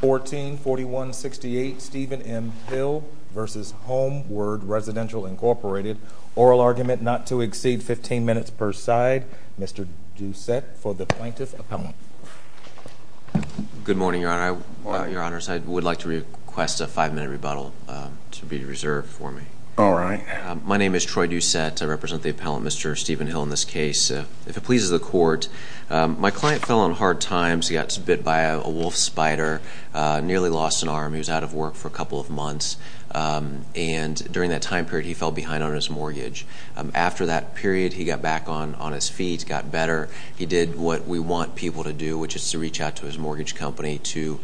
144168 Stephen M. Hill v. Homeward Residential Inc. Oral argument not to exceed 15 minutes per side. Mr. Doucette for the Plaintiff's Appellant. Good morning, Your Honor. I would like to request a five-minute rebuttal to be reserved for me. All right. My name is Troy Doucette. I represent the Appellant, Mr. Stephen Hill, in this case. If it pleases the Court, my client fell on hard times. He got bit by a wolf spider, nearly lost an arm. He was out of work for a couple of months. And during that time period, he fell behind on his mortgage. After that period, he got back on his feet, got better. He did what we want people to do, which is to reach out to his mortgage company to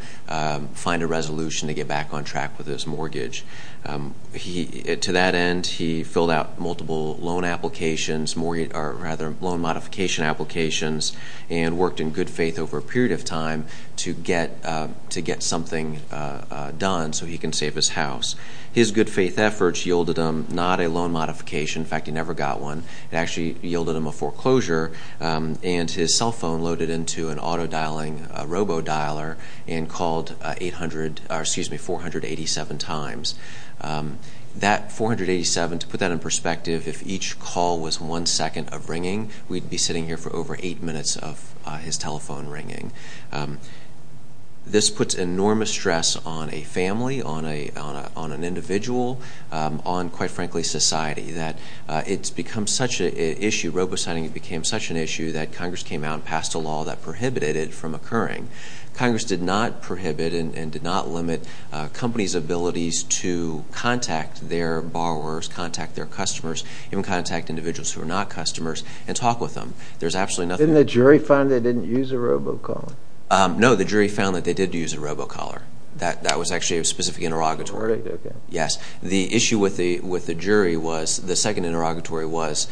find a resolution to get back on track with his mortgage. To that end, he filled out multiple loan modifications and worked in good faith over a period of time to get something done so he can save his house. His good faith efforts yielded him not a loan modification. In fact, he never got one. It actually yielded him a foreclosure. And his cell phone loaded into an auto-dialing robo-dialer and called 487 times. That 487, to put that in perspective, if each call was one second of ringing, we'd be sitting here for over eight minutes of his telephone ringing. This puts enormous stress on a family, on an individual, on, quite frankly, society. That it's become such an issue, robo-signing became such an issue, that Congress came out and passed a law that prohibited it from occurring. Congress did not prohibit and did not limit companies' abilities to contact their borrowers, contact their customers, even contact individuals who are not customers, and talk with them. There's absolutely nothing— Didn't the jury find they didn't use a robo-caller? No, the jury found that they did use a robo-caller. That was actually a specific interrogatory. Yes, the issue with the jury was, the second interrogatory was,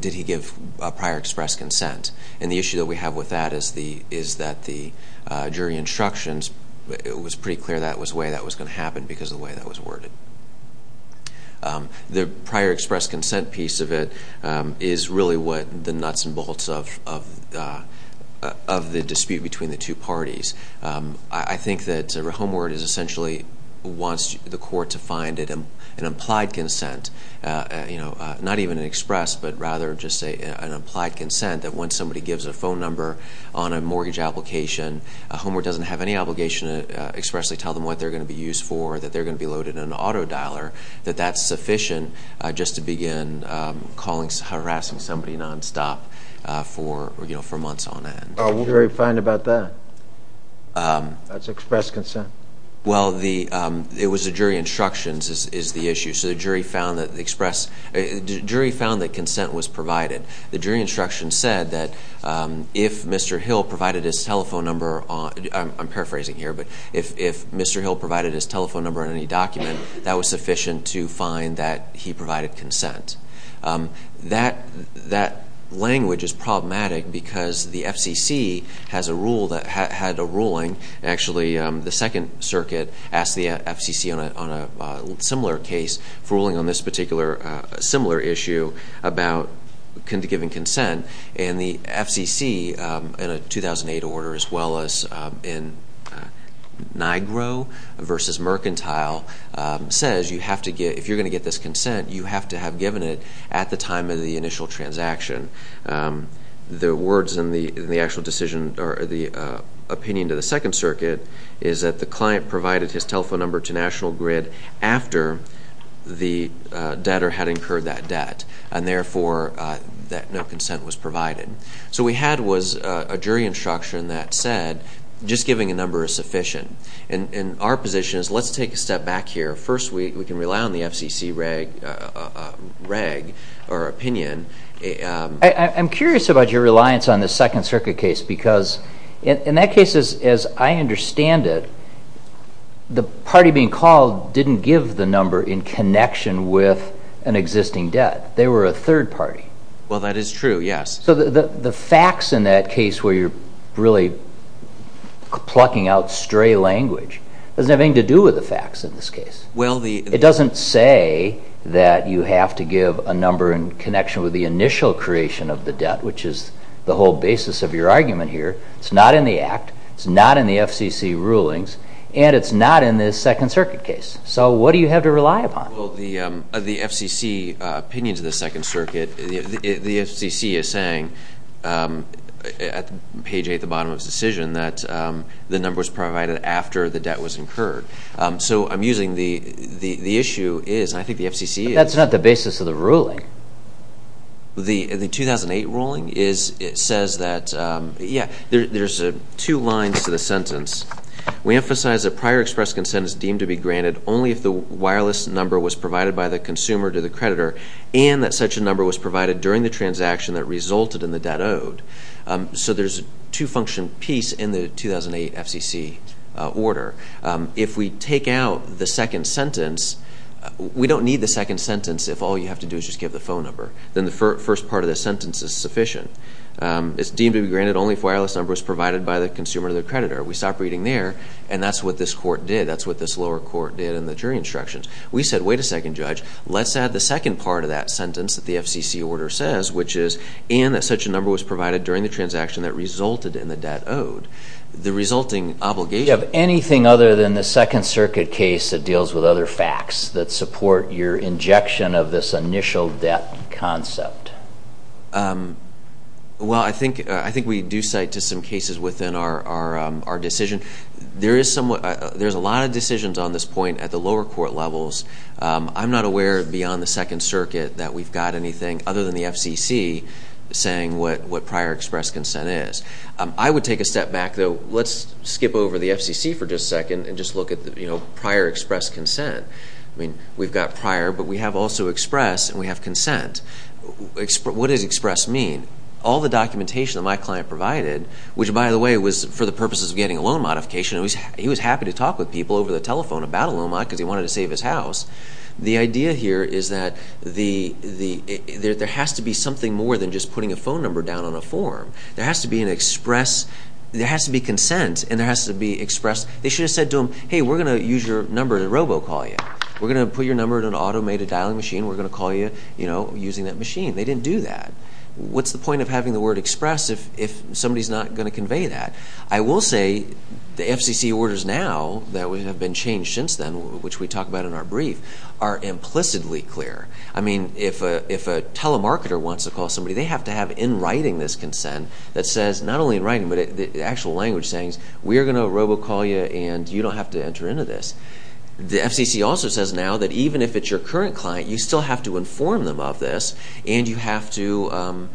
did he give a prior express consent? And the issue that we have with that is that the jury instructions, it was pretty clear that was the way that was going to happen because of the way that was worded. The prior express consent piece of it is really what the nuts and bolts of the dispute between the two parties. I think that Homeward essentially wants the court to find an implied consent, not even an express, but rather just an implied consent that when somebody gives a phone number on a mortgage application, Homeward doesn't have any obligation to expressly tell them what they're going to be used for, that they're going to be loaded in an auto-dialer, that that's sufficient just to begin harassing somebody nonstop for months on end. What did the jury find about that? That's express consent. Well, it was the jury instructions is the issue. So the jury found that consent was provided. The jury instructions said that if Mr. Hill provided his telephone number on, I'm paraphrasing here, but if Mr. Hill provided his telephone number on any document, that was sufficient to find that he provided consent. That language is problematic because the FCC has a rule that had a ruling. Actually, the Second Circuit asked the FCC on a similar case for ruling on this particular similar issue about giving consent. And the FCC, in a 2008 order as well as in NIGRO versus Mercantile, says if you're going to get this consent, you have to have given it at the time of the initial transaction. The words in the actual decision or the opinion to the Second Circuit is that the client provided his telephone number to National Grid after the debtor had incurred that debt and, therefore, that no consent was provided. So what we had was a jury instruction that said just giving a number is sufficient. And our position is let's take a step back here. First, we can rely on the FCC reg or opinion. I'm curious about your reliance on the Second Circuit case because in that case, as I understand it, the party being called didn't give the number in connection with an existing debt. They were a third party. Well, that is true, yes. So the facts in that case where you're really plucking out stray language doesn't have anything to do with the facts in this case. It doesn't say that you have to give a number in connection with the initial creation of the debt, which is the whole basis of your argument here. It's not in the act. It's not in the FCC rulings. And it's not in this Second Circuit case. So what do you have to rely upon? Well, the FCC opinion to the Second Circuit, the FCC is saying, page 8 at the bottom of its decision, that the number was provided after the debt was incurred. So I'm using the issue is, and I think the FCC is. That's not the basis of the ruling. The 2008 ruling says that, yeah, there's two lines to the sentence. We emphasize that prior express consent is deemed to be granted only if the wireless number was provided by the consumer to the creditor and that such a number was provided during the transaction that resulted in the debt owed. So there's a two-function piece in the 2008 FCC order. If we take out the second sentence, we don't need the second sentence if all you have to do is just give the phone number. Then the first part of the sentence is sufficient. It's deemed to be granted only if wireless number was provided by the consumer to the creditor. We stop reading there, and that's what this court did. That's what this lower court did in the jury instructions. We said, wait a second, Judge. Let's add the second part of that sentence that the FCC order says, which is, and that such a number was provided during the transaction that resulted in the debt owed. The resulting obligation. Do you have anything other than the Second Circuit case that deals with other facts that support your injection of this initial debt concept? Well, I think we do cite to some cases within our decision. There's a lot of decisions on this point at the lower court levels. I'm not aware beyond the Second Circuit that we've got anything other than the FCC saying what prior express consent is. I would take a step back, though. Let's skip over the FCC for just a second and just look at prior express consent. I mean, we've got prior, but we have also express, and we have consent. What does express mean? All the documentation that my client provided, which, by the way, was for the purposes of getting a loan modification. He was happy to talk with people over the telephone about a loan mod because he wanted to save his house. The idea here is that there has to be something more than just putting a phone number down on a form. There has to be an express. There has to be consent, and there has to be express. They should have said to him, hey, we're going to use your number to robocall you. We're going to put your number in an automated dialing machine. We're going to call you using that machine. They didn't do that. What's the point of having the word express if somebody's not going to convey that? I will say the FCC orders now that have been changed since then, which we talk about in our brief, are implicitly clear. I mean, if a telemarketer wants to call somebody, they have to have in writing this consent that says, not only in writing, but the actual language saying, we're going to robocall you, and you don't have to enter into this. The FCC also says now that even if it's your current client, you still have to inform them of this, and you have to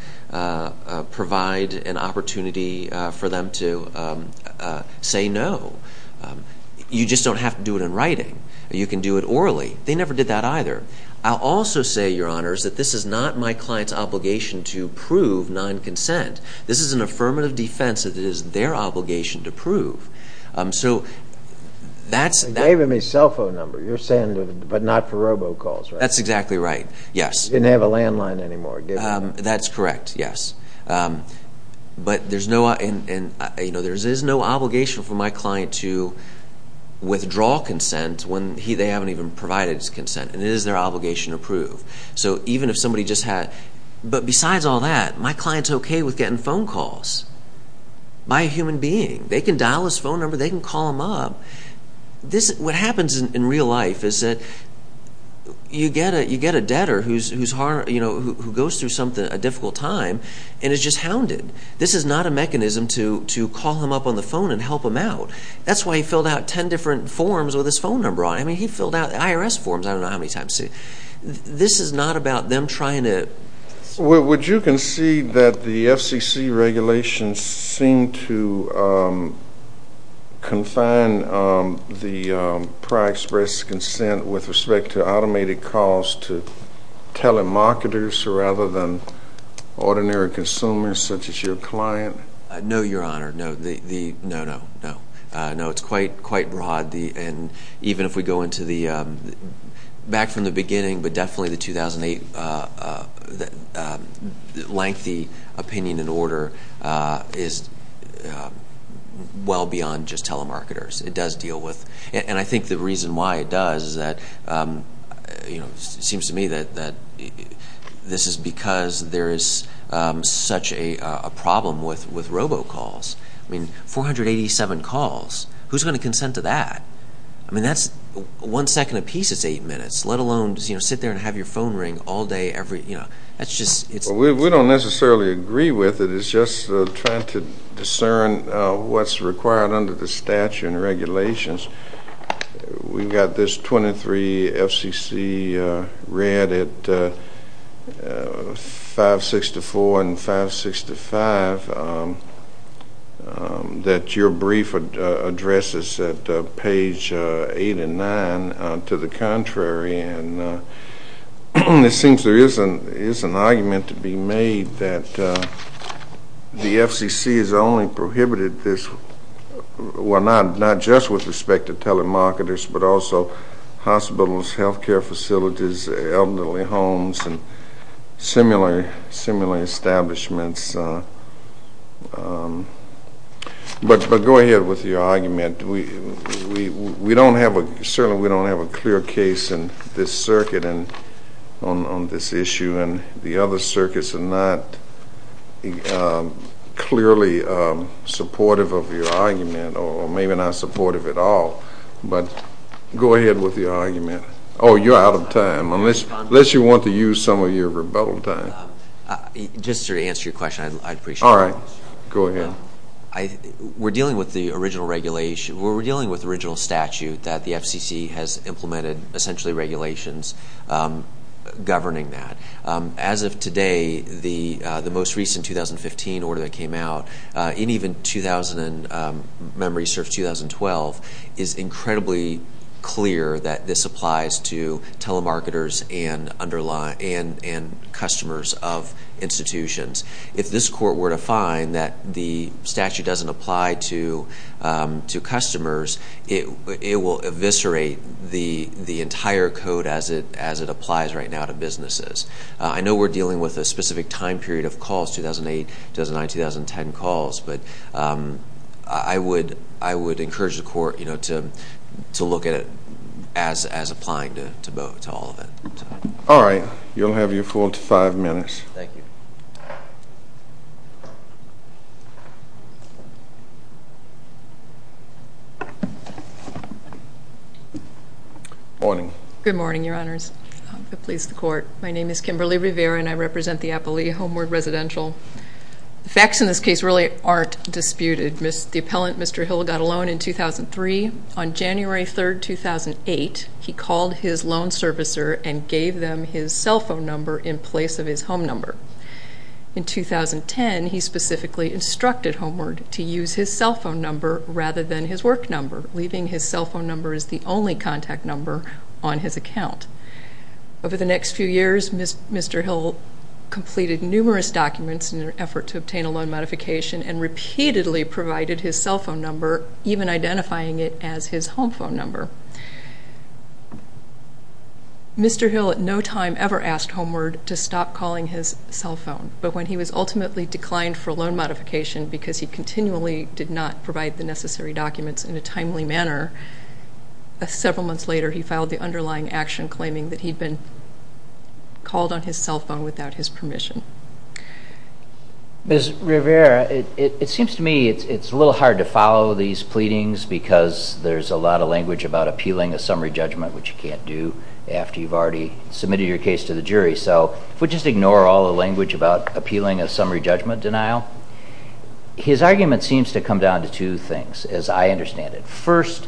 provide an opportunity for them to say no. You just don't have to do it in writing. You can do it orally. They never did that either. I'll also say, Your Honors, that this is not my client's obligation to prove non-consent. This is an affirmative defense that it is their obligation to prove. You gave him his cell phone number, your send, but not for robocalls, right? That's exactly right, yes. He didn't have a landline anymore, did he? That's correct, yes. But there is no obligation for my client to withdraw consent when they haven't even provided his consent, and it is their obligation to prove. But besides all that, my client's okay with getting phone calls by a human being. They can dial his phone number. They can call him up. What happens in real life is that you get a debtor who goes through a difficult time and is just hounded. This is not a mechanism to call him up on the phone and help him out. That's why he filled out ten different forms with his phone number on it. I mean, he filled out IRS forms I don't know how many times. This is not about them trying to. Would you concede that the FCC regulations seem to confine the prior express consent with respect to automated calls to telemarketers rather than ordinary consumers such as your client? No, Your Honor. No, no, no. No, it's quite broad, and even if we go back from the beginning, but definitely the 2008 lengthy opinion in order is well beyond just telemarketers. It does deal with, and I think the reason why it does is that, you know, it seems to me that this is because there is such a problem with robocalls. I mean, 487 calls. Who's going to consent to that? I mean, that's one second apiece is eight minutes, let alone, you know, sit there and have your phone ring all day every, you know, that's just. We don't necessarily agree with it. It's just trying to discern what's required under the statute and regulations. We've got this 23 FCC read at 564 and 565 that your brief addresses at page 8 and 9 to the contrary, and it seems there is an argument to be made that the FCC has only prohibited this, well, not just with respect to telemarketers, but also hospitals, health care facilities, elderly homes, and similar establishments. But go ahead with your argument. We don't have a, certainly we don't have a clear case in this circuit on this issue, and the other circuits are not clearly supportive of your argument or maybe not supportive at all. But go ahead with your argument. Oh, you're out of time. Unless you want to use some of your rebuttal time. Just to answer your question, I'd appreciate it. All right. Go ahead. We're dealing with the original regulation. As of today, the most recent 2015 order that came out, and even memory serves 2012, is incredibly clear that this applies to telemarketers and customers of institutions. If this court were to find that the statute doesn't apply to customers, it will eviscerate the entire code as it applies right now to businesses. I know we're dealing with a specific time period of calls, 2008, 2009, 2010 calls, but I would encourage the court to look at it as applying to all of it. All right. You'll have your full five minutes. Thank you. Good morning. Good morning, Your Honors. I'm pleased to court. My name is Kimberly Rivera, and I represent the Appali Homeward Residential. The facts in this case really aren't disputed. The appellant, Mr. Hill, got a loan in 2003. On January 3, 2008, he called his loan servicer and gave them his cell phone number in place of his home number. In 2010, he specifically instructed Homeward to use his cell phone number rather than his work number, leaving his cell phone number as the only contact number on his account. Over the next few years, Mr. Hill completed numerous documents in an effort to obtain a loan modification and repeatedly provided his cell phone number, even identifying it as his home phone number. Mr. Hill at no time ever asked Homeward to stop calling his cell phone, but when he was ultimately declined for a loan modification because he continually did not provide the necessary documents in a timely manner, several months later he filed the underlying action claiming that he'd been called on his cell phone without his permission. Ms. Rivera, it seems to me it's a little hard to follow these pleadings because there's a lot of language about appealing a summary judgment, which you can't do after you've already submitted your case to the jury. So if we just ignore all the language about appealing a summary judgment denial, his argument seems to come down to two things, as I understand it. First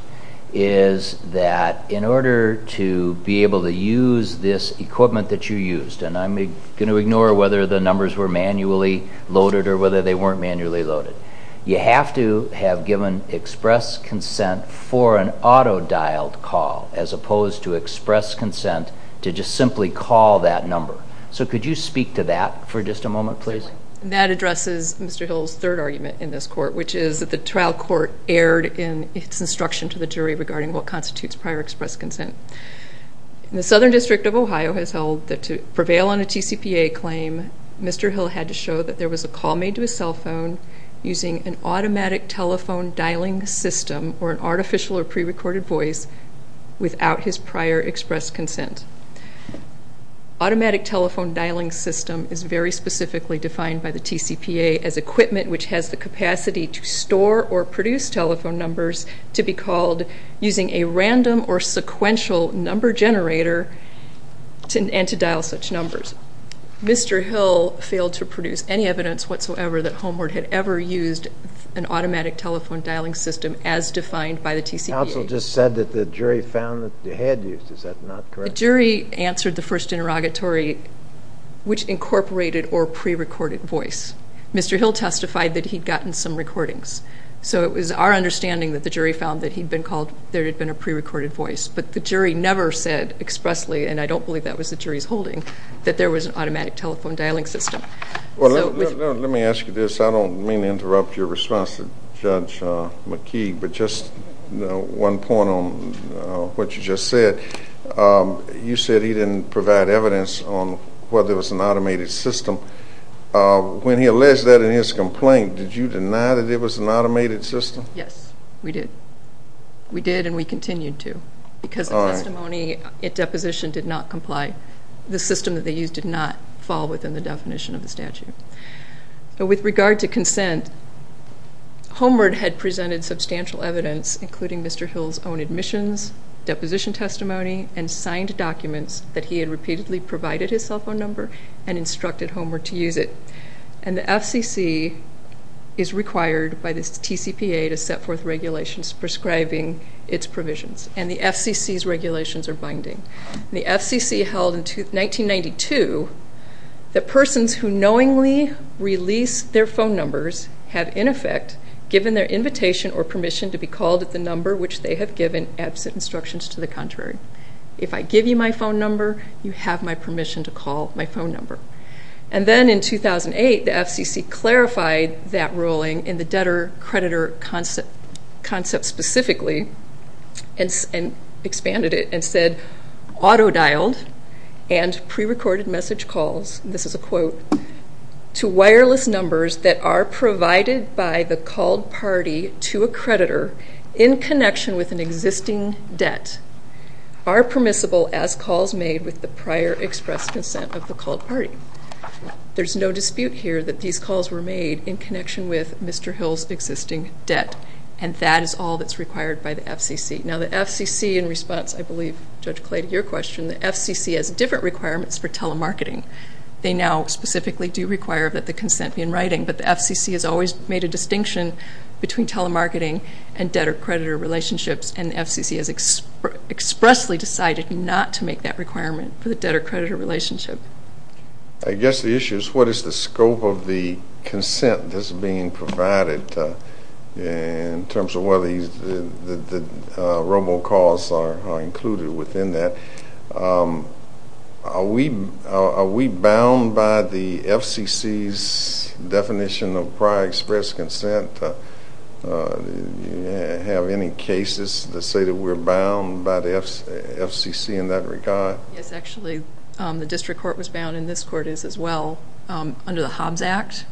is that in order to be able to use this equipment that you used, and I'm going to ignore whether the numbers were manually loaded or whether they weren't manually loaded, you have to have given express consent for an auto-dialed call as opposed to express consent to just simply call that number. So could you speak to that for just a moment, please? That addresses Mr. Hill's third argument in this court, which is that the trial court erred in its instruction to the jury regarding what constitutes prior express consent. The Southern District of Ohio has held that to prevail on a TCPA claim, Mr. Hill had to show that there was a call made to his cell phone using an automatic telephone dialing system or an artificial or pre-recorded voice without his prior express consent. Automatic telephone dialing system is very specifically defined by the TCPA as equipment which has the capacity to store or produce telephone numbers to be called using a random or sequential number generator and to dial such numbers. Mr. Hill failed to produce any evidence whatsoever that Homeward had ever used an automatic telephone dialing system as defined by the TCPA. The counsel just said that the jury found that they had used it. Is that not correct? The jury answered the first interrogatory, which incorporated or pre-recorded voice. Mr. Hill testified that he'd gotten some recordings. So it was our understanding that the jury found that there had been a pre-recorded voice. But the jury never said expressly, and I don't believe that was the jury's holding, that there was an automatic telephone dialing system. Let me ask you this. I don't mean to interrupt your response to Judge McKee, but just one point on what you just said. You said he didn't provide evidence on whether it was an automated system. When he alleged that in his complaint, did you deny that it was an automated system? Yes, we did. We did and we continued to because the testimony at deposition did not comply. The system that they used did not fall within the definition of the statute. With regard to consent, Homeward had presented substantial evidence, including Mr. Hill's own admissions, deposition testimony, and signed documents that he had repeatedly provided his cell phone number and instructed Homeward to use it. And the FCC is required by the TCPA to set forth regulations prescribing its provisions, and the FCC's regulations are binding. The FCC held in 1992 that persons who knowingly release their phone numbers have, in effect, given their invitation or permission to be called at the number which they have given absent instructions to the contrary. If I give you my phone number, you have my permission to call my phone number. And then in 2008, the FCC clarified that ruling in the debtor-creditor concept specifically and expanded it and said auto-dialed and prerecorded message calls, and this is a quote, to wireless numbers that are provided by the called party to a creditor in connection with an existing debt are permissible as calls made with the prior expressed consent of the called party. There's no dispute here that these calls were made in connection with Mr. Hill's existing debt, and that is all that's required by the FCC. Now the FCC, in response, I believe, Judge Clay, to your question, the FCC has different requirements for telemarketing. They now specifically do require that the consent be in writing, but the FCC has always made a distinction between telemarketing and debtor-creditor relationships, and the FCC has expressly decided not to make that requirement for the debtor-creditor relationship. I guess the issue is what is the scope of the consent that's being provided in terms of whether the robo-calls are included within that. Are we bound by the FCC's definition of prior expressed consent? Do you have any cases that say that we're bound by the FCC in that regard? Yes, actually. The district court was bound, and this court is as well, under the Hobbs Act.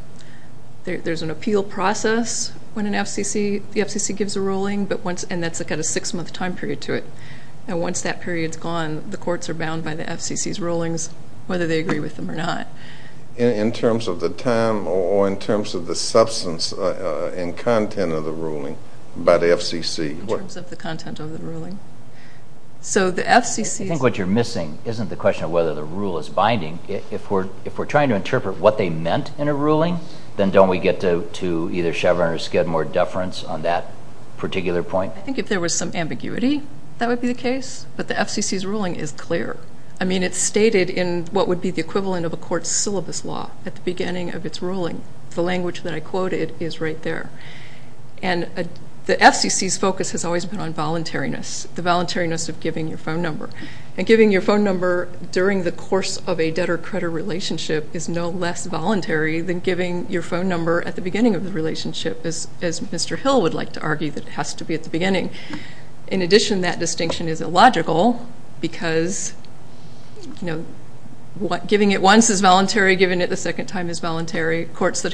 There's an appeal process when the FCC gives a ruling, and that's got a six-month time period to it. And once that period's gone, the courts are bound by the FCC's rulings, whether they agree with them or not. In terms of the time or in terms of the substance and content of the ruling by the FCC? In terms of the content of the ruling. I think what you're missing isn't the question of whether the rule is binding. If we're trying to interpret what they meant in a ruling, then don't we get to either Chevron or Skidmore deference on that particular point? I think if there was some ambiguity, that would be the case. But the FCC's ruling is clear. I mean, it's stated in what would be the equivalent of a court's syllabus law at the beginning of its ruling. The language that I quoted is right there. And the FCC's focus has always been on voluntariness, the voluntariness of giving your phone number. And giving your phone number during the course of a debtor-creditor relationship is no less voluntary than giving your phone number at the beginning of the relationship, as Mr. Hill would like to argue that it has to be at the beginning. In addition, that distinction is illogical because, you know, courts that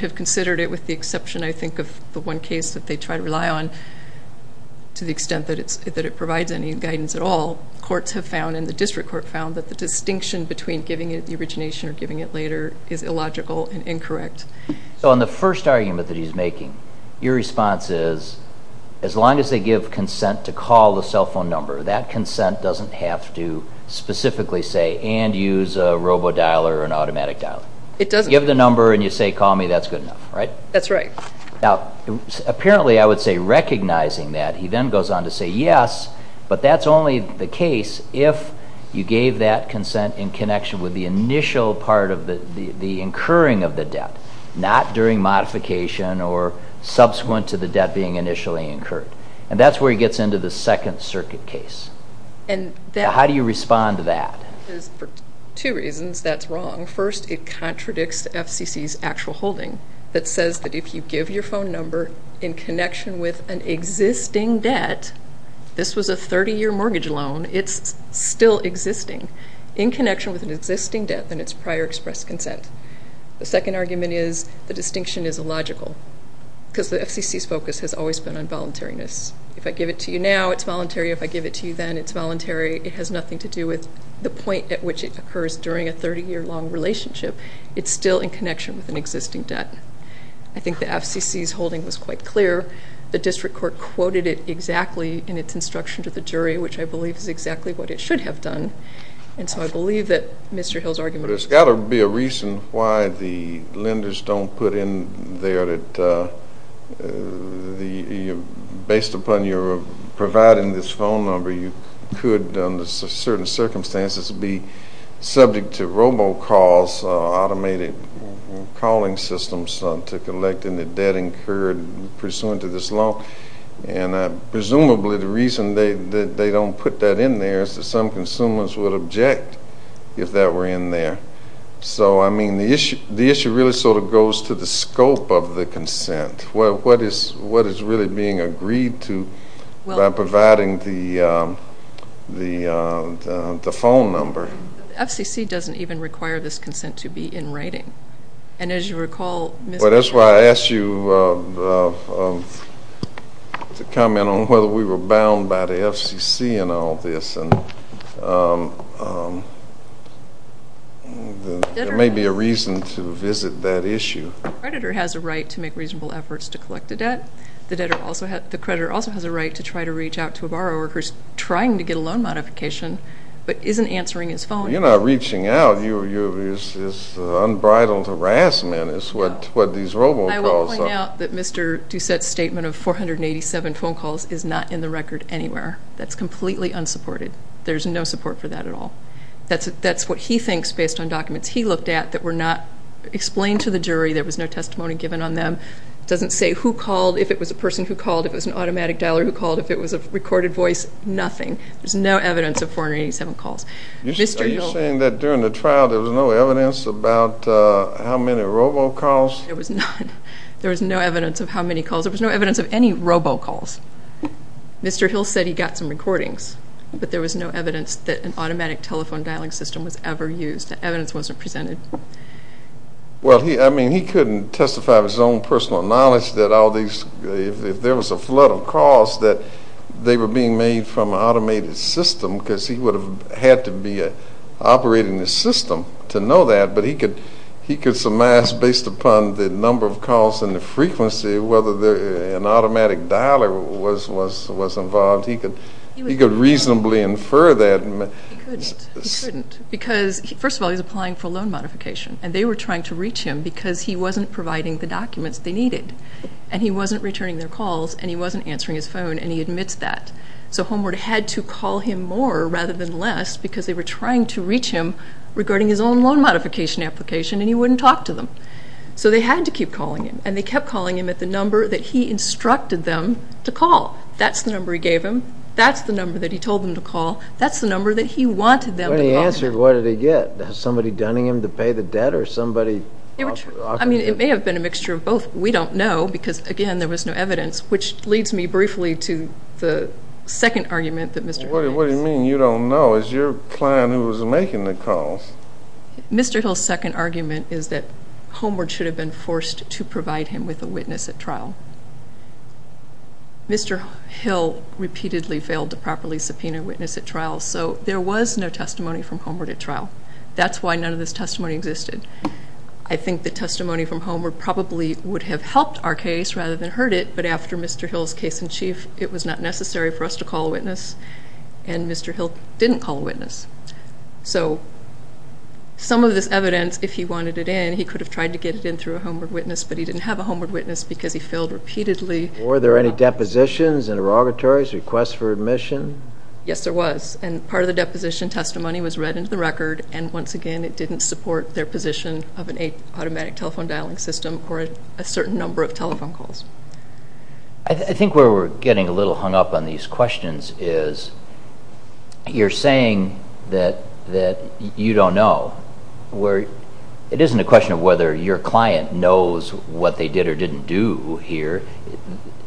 have considered it with the exception, I think, of the one case that they try to rely on, to the extent that it provides any guidance at all, courts have found, and the district court found, that the distinction between giving it at the origination or giving it later is illogical and incorrect. So in the first argument that he's making, your response is, as long as they give consent to call the cell phone number, that consent doesn't have to specifically say, and use a robo-dialer or an automatic dialer. It doesn't. Give the number and you say, call me, that's good enough, right? That's right. Now, apparently, I would say, recognizing that, he then goes on to say, yes, but that's only the case if you gave that consent in connection with the initial part of the incurring of the debt, not during modification or subsequent to the debt being initially incurred. And that's where he gets into the Second Circuit case. How do you respond to that? For two reasons, that's wrong. First, it contradicts FCC's actual holding that says that if you give your phone number in connection with an existing debt, this was a 30-year mortgage loan, it's still existing, in connection with an existing debt and its prior expressed consent. The second argument is the distinction is illogical because the FCC's focus has always been on voluntariness. If I give it to you now, it's voluntary. If I give it to you then, it's voluntary. It has nothing to do with the point at which it occurs during a 30-year long relationship. It's still in connection with an existing debt. I think the FCC's holding was quite clear. The district court quoted it exactly in its instruction to the jury, which I believe is exactly what it should have done. And so I believe that Mr. Hill's argument is correct. But there's got to be a reason why the lenders don't put in there that, based upon your providing this phone number, you could, under certain circumstances, be subject to robocalls, automated calling systems to collect any debt incurred pursuant to this loan. And presumably, the reason that they don't put that in there is that some consumers would object if that were in there. So, I mean, the issue really sort of goes to the scope of the consent. What is really being agreed to by providing the phone number? The FCC doesn't even require this consent to be in writing. And as you recall, Mr. Hill. Well, that's why I asked you to comment on whether we were bound by the FCC in all this. There may be a reason to visit that issue. The creditor has a right to make reasonable efforts to collect a debt. The creditor also has a right to try to reach out to a borrower who's trying to get a loan modification but isn't answering his phone. You're not reaching out. It's unbridled harassment is what these robocalls are. I will point out that Mr. Doucette's statement of 487 phone calls is not in the record anywhere. That's completely unsupported. There's no support for that at all. That's what he thinks based on documents he looked at that were not explained to the jury. There was no testimony given on them. It doesn't say who called, if it was a person who called, if it was an automatic dialer who called, if it was a recorded voice, nothing. There's no evidence of 487 calls. Are you saying that during the trial there was no evidence about how many robocalls? There was none. There was no evidence of how many calls. There was no evidence of any robocalls. Mr. Hill said he got some recordings. But there was no evidence that an automatic telephone dialing system was ever used. Evidence wasn't presented. Well, I mean, he couldn't testify with his own personal knowledge that all these, if there was a flood of calls, that they were being made from an automated system because he would have had to be operating the system to know that. But he could surmise based upon the number of calls and the frequency, whether an automatic dialer was involved. He could reasonably infer that. He couldn't. He couldn't because, first of all, he was applying for a loan modification, and they were trying to reach him because he wasn't providing the documents they needed, and he wasn't returning their calls, and he wasn't answering his phone, and he admits that. So Homeward had to call him more rather than less because they were trying to reach him regarding his own loan modification application, and he wouldn't talk to them. So they had to keep calling him, and they kept calling him at the number that he instructed them to call. That's the number he gave them. That's the number that he told them to call. That's the number that he wanted them to call him. When he answered, what did he get? Somebody dunning him to pay the debt or somebody offering him? I mean, it may have been a mixture of both. We don't know because, again, there was no evidence, which leads me briefly to the second argument that Mr. Hill makes. What do you mean you don't know? It's your client who was making the calls. Mr. Hill's second argument is that Homeward should have been forced to provide him with a witness at trial. Mr. Hill repeatedly failed to properly subpoena a witness at trial, so there was no testimony from Homeward at trial. That's why none of this testimony existed. I think the testimony from Homeward probably would have helped our case rather than hurt it, but after Mr. Hill's case in chief, it was not necessary for us to call a witness, and Mr. Hill didn't call a witness. So some of this evidence, if he wanted it in, he could have tried to get it in through a Homeward witness, but he didn't have a Homeward witness because he failed repeatedly. Were there any depositions, interrogatories, requests for admission? Yes, there was, and part of the deposition testimony was read into the record, and once again it didn't support their position of an automatic telephone dialing system or a certain number of telephone calls. I think where we're getting a little hung up on these questions is you're saying that you don't know. It isn't a question of whether your client knows what they did or didn't do here.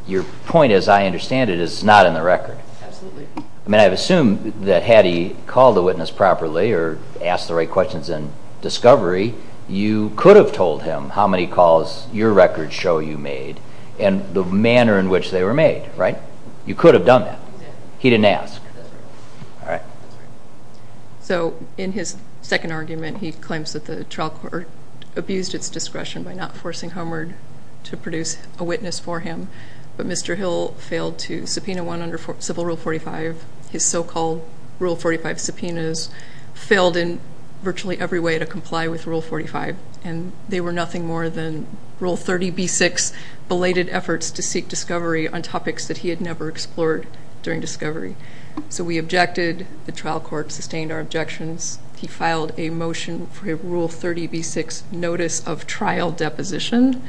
Your point, as I understand it, is not in the record. Absolutely. I mean, I assume that had he called the witness properly or asked the right questions in discovery, you could have told him how many calls your record show you made and the manner in which they were made, right? You could have done that. Exactly. He didn't ask. That's right. So in his second argument, he claims that the trial court abused its discretion by not forcing Homeward to produce a witness for him, but Mr. Hill failed to subpoena one under Civil Rule 45. His so-called Rule 45 subpoenas failed in virtually every way to comply with Rule 45, and they were nothing more than Rule 30b-6 belated efforts to seek discovery on topics that he had never explored during discovery. So we objected. The trial court sustained our objections. He filed a motion for a Rule 30b-6 notice of trial deposition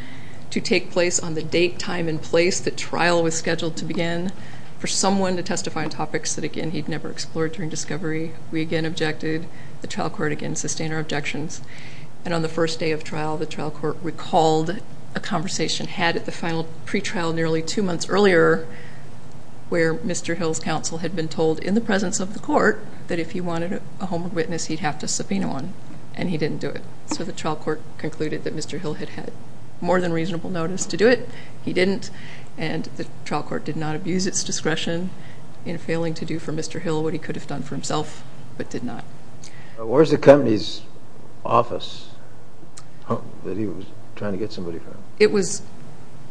to take place on the date, time, and place the trial was scheduled to begin for someone to testify on topics that, again, he'd never explored during discovery. We again objected. The trial court, again, sustained our objections. And on the first day of trial, the trial court recalled a conversation had at the final pretrial nearly two months earlier where Mr. Hill's counsel had been told in the presence of the court that if he wanted a Homeward witness, he'd have to subpoena one, and he didn't do it. So the trial court concluded that Mr. Hill had had more than reasonable notice to do it. He didn't, and the trial court did not abuse its discretion in failing to do for Mr. Hill what he could have done for himself, but did not. Where's the company's office that he was trying to get somebody from?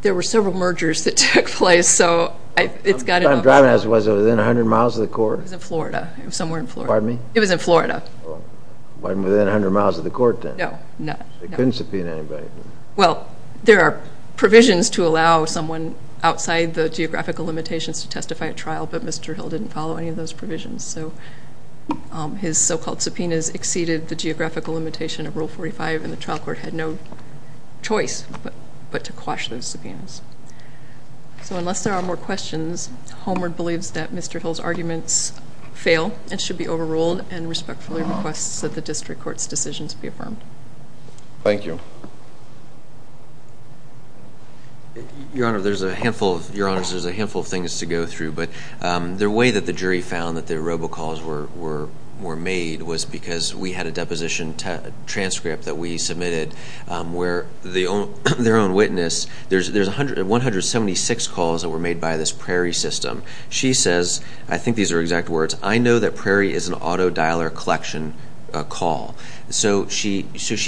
There were several mergers that took place, so it's got to go. What time of driving was it? Was it within 100 miles of the court? It was in Florida, somewhere in Florida. Pardon me? It was in Florida. It wasn't within 100 miles of the court then? No. They couldn't subpoena anybody. Well, there are provisions to allow someone outside the geographical limitations to testify at trial, but Mr. Hill didn't follow any of those provisions. So his so-called subpoenas exceeded the geographical limitation of Rule 45, and the trial court had no choice but to quash those subpoenas. So unless there are more questions, Homer believes that Mr. Hill's arguments fail and should be overruled and respectfully requests that the district court's decisions be affirmed. Thank you. Your Honor, there's a handful of things to go through, but the way that the jury found that the robocalls were made was because we had a deposition transcript that we submitted where their own witness, there's 176 calls that were made by this Prairie system. She says, I think these are exact words, I know that Prairie is an auto-dialer collection call. So she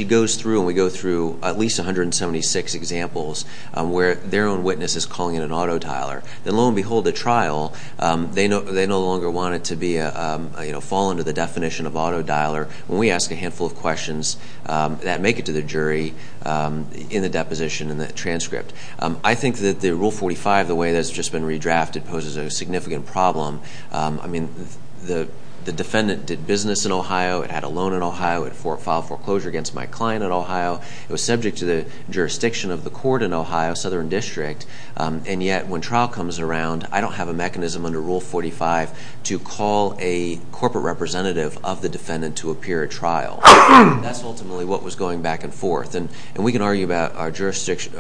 goes through and we go through at least 176 examples where their own witness is calling it an auto-dialer. Then lo and behold, at trial, they no longer want it to fall under the definition of auto-dialer when we ask a handful of questions that make it to the jury in the deposition and the transcript. I think that the Rule 45, the way that it's just been redrafted, poses a significant problem. I mean, the defendant did business in Ohio, had a loan in Ohio, had filed foreclosure against my client in Ohio. It was subject to the jurisdiction of the court in Ohio, Southern District. And yet when trial comes around, I don't have a mechanism under Rule 45 to call a corporate representative of the defendant to appear at trial. That's ultimately what was going back and forth. And we can argue about our jurisdiction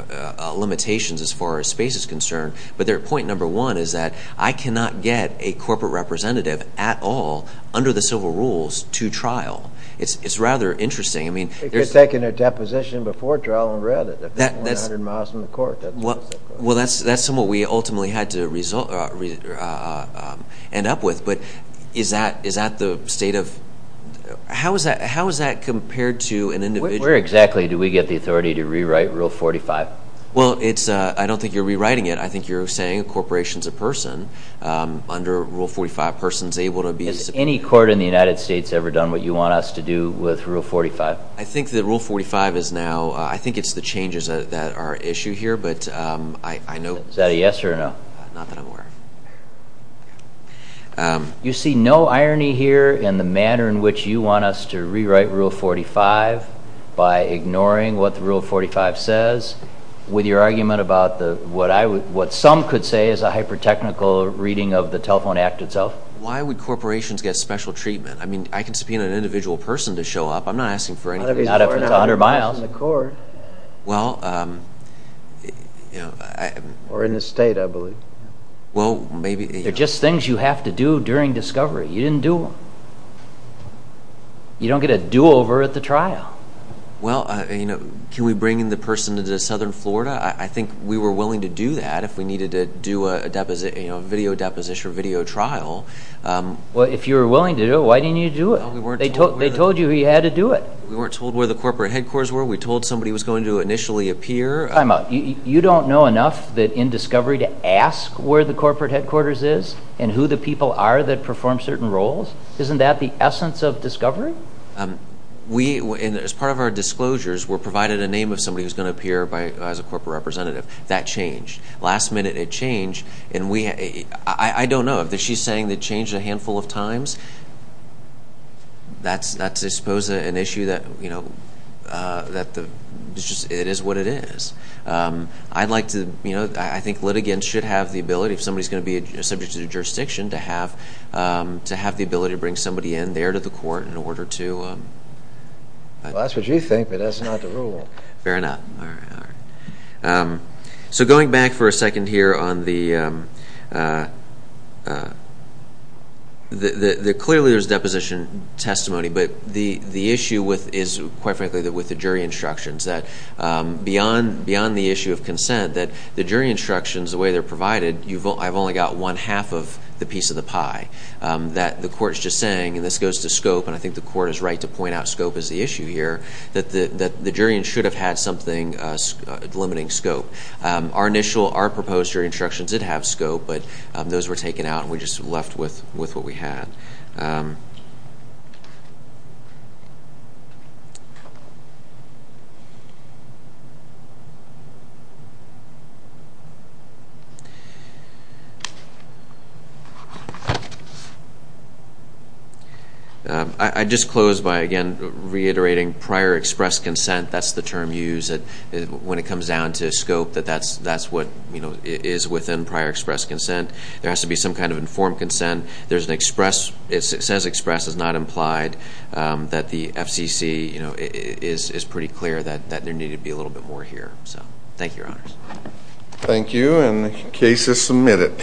limitations as far as space is concerned, but their point number one is that I cannot get a corporate representative at all under the civil rules to trial. It's rather interesting. They could have taken their deposition before trial and read it. That's 100 miles from the court. Well, that's what we ultimately had to end up with. But how is that compared to an individual? Where exactly do we get the authority to rewrite Rule 45? Well, I don't think you're rewriting it. I think you're saying a corporation is a person. Under Rule 45, a person is able to be a civil court. Has any court in the United States ever done what you want us to do with Rule 45? I think that Rule 45 is now, I think it's the changes that are at issue here, but I know. Is that a yes or a no? Not that I'm aware of. You see no irony here in the manner in which you want us to rewrite Rule 45 by ignoring what the Rule 45 says with your argument about what some could say is a hyper-technical reading of the Telephone Act itself? Why would corporations get special treatment? I mean, I can subpoena an individual person to show up. I'm not asking for anything. Not if it's 100 miles. Well, you know. Or in the state, I believe. Well, maybe. They're just things you have to do during discovery. You didn't do them. You don't get a do-over at the trial. Well, you know, can we bring in the person to Southern Florida? I think we were willing to do that if we needed to do a video deposition or video trial. Well, if you were willing to do it, why didn't you do it? They told you who you had to do it. We weren't told where the corporate headquarters were. We told somebody who was going to initially appear. Time out. You don't know enough in discovery to ask where the corporate headquarters is and who the people are that perform certain roles? Isn't that the essence of discovery? As part of our disclosures, we're provided a name of somebody who's going to appear as a corporate representative. That changed. Last minute, it changed. I don't know. If she's saying it changed a handful of times, that's, I suppose, an issue that it is what it is. I think litigants should have the ability, if somebody's going to be subject to the jurisdiction, to have the ability to bring somebody in there to the court in order to— Well, that's what you think, but that's not the rule. Fair enough. All right, all right. So going back for a second here on the— clearly there's deposition testimony, but the issue is, quite frankly, with the jury instructions, that beyond the issue of consent, that the jury instructions, the way they're provided, I've only got one half of the piece of the pie, that the court's just saying, and this goes to scope, and I think the court is right to point out scope as the issue here, that the jury should have had something limiting scope. Our initial, our proposed jury instructions did have scope, but those were taken out and we just left with what we had. All right. I just close by, again, reiterating prior express consent, that's the term used when it comes down to scope, that that's what is within prior express consent. There has to be some kind of informed consent. There's an express, it says express, it's not implied that the FCC, you know, is pretty clear that there needed to be a little bit more here. So thank you, Your Honors. Thank you, and the case is submitted.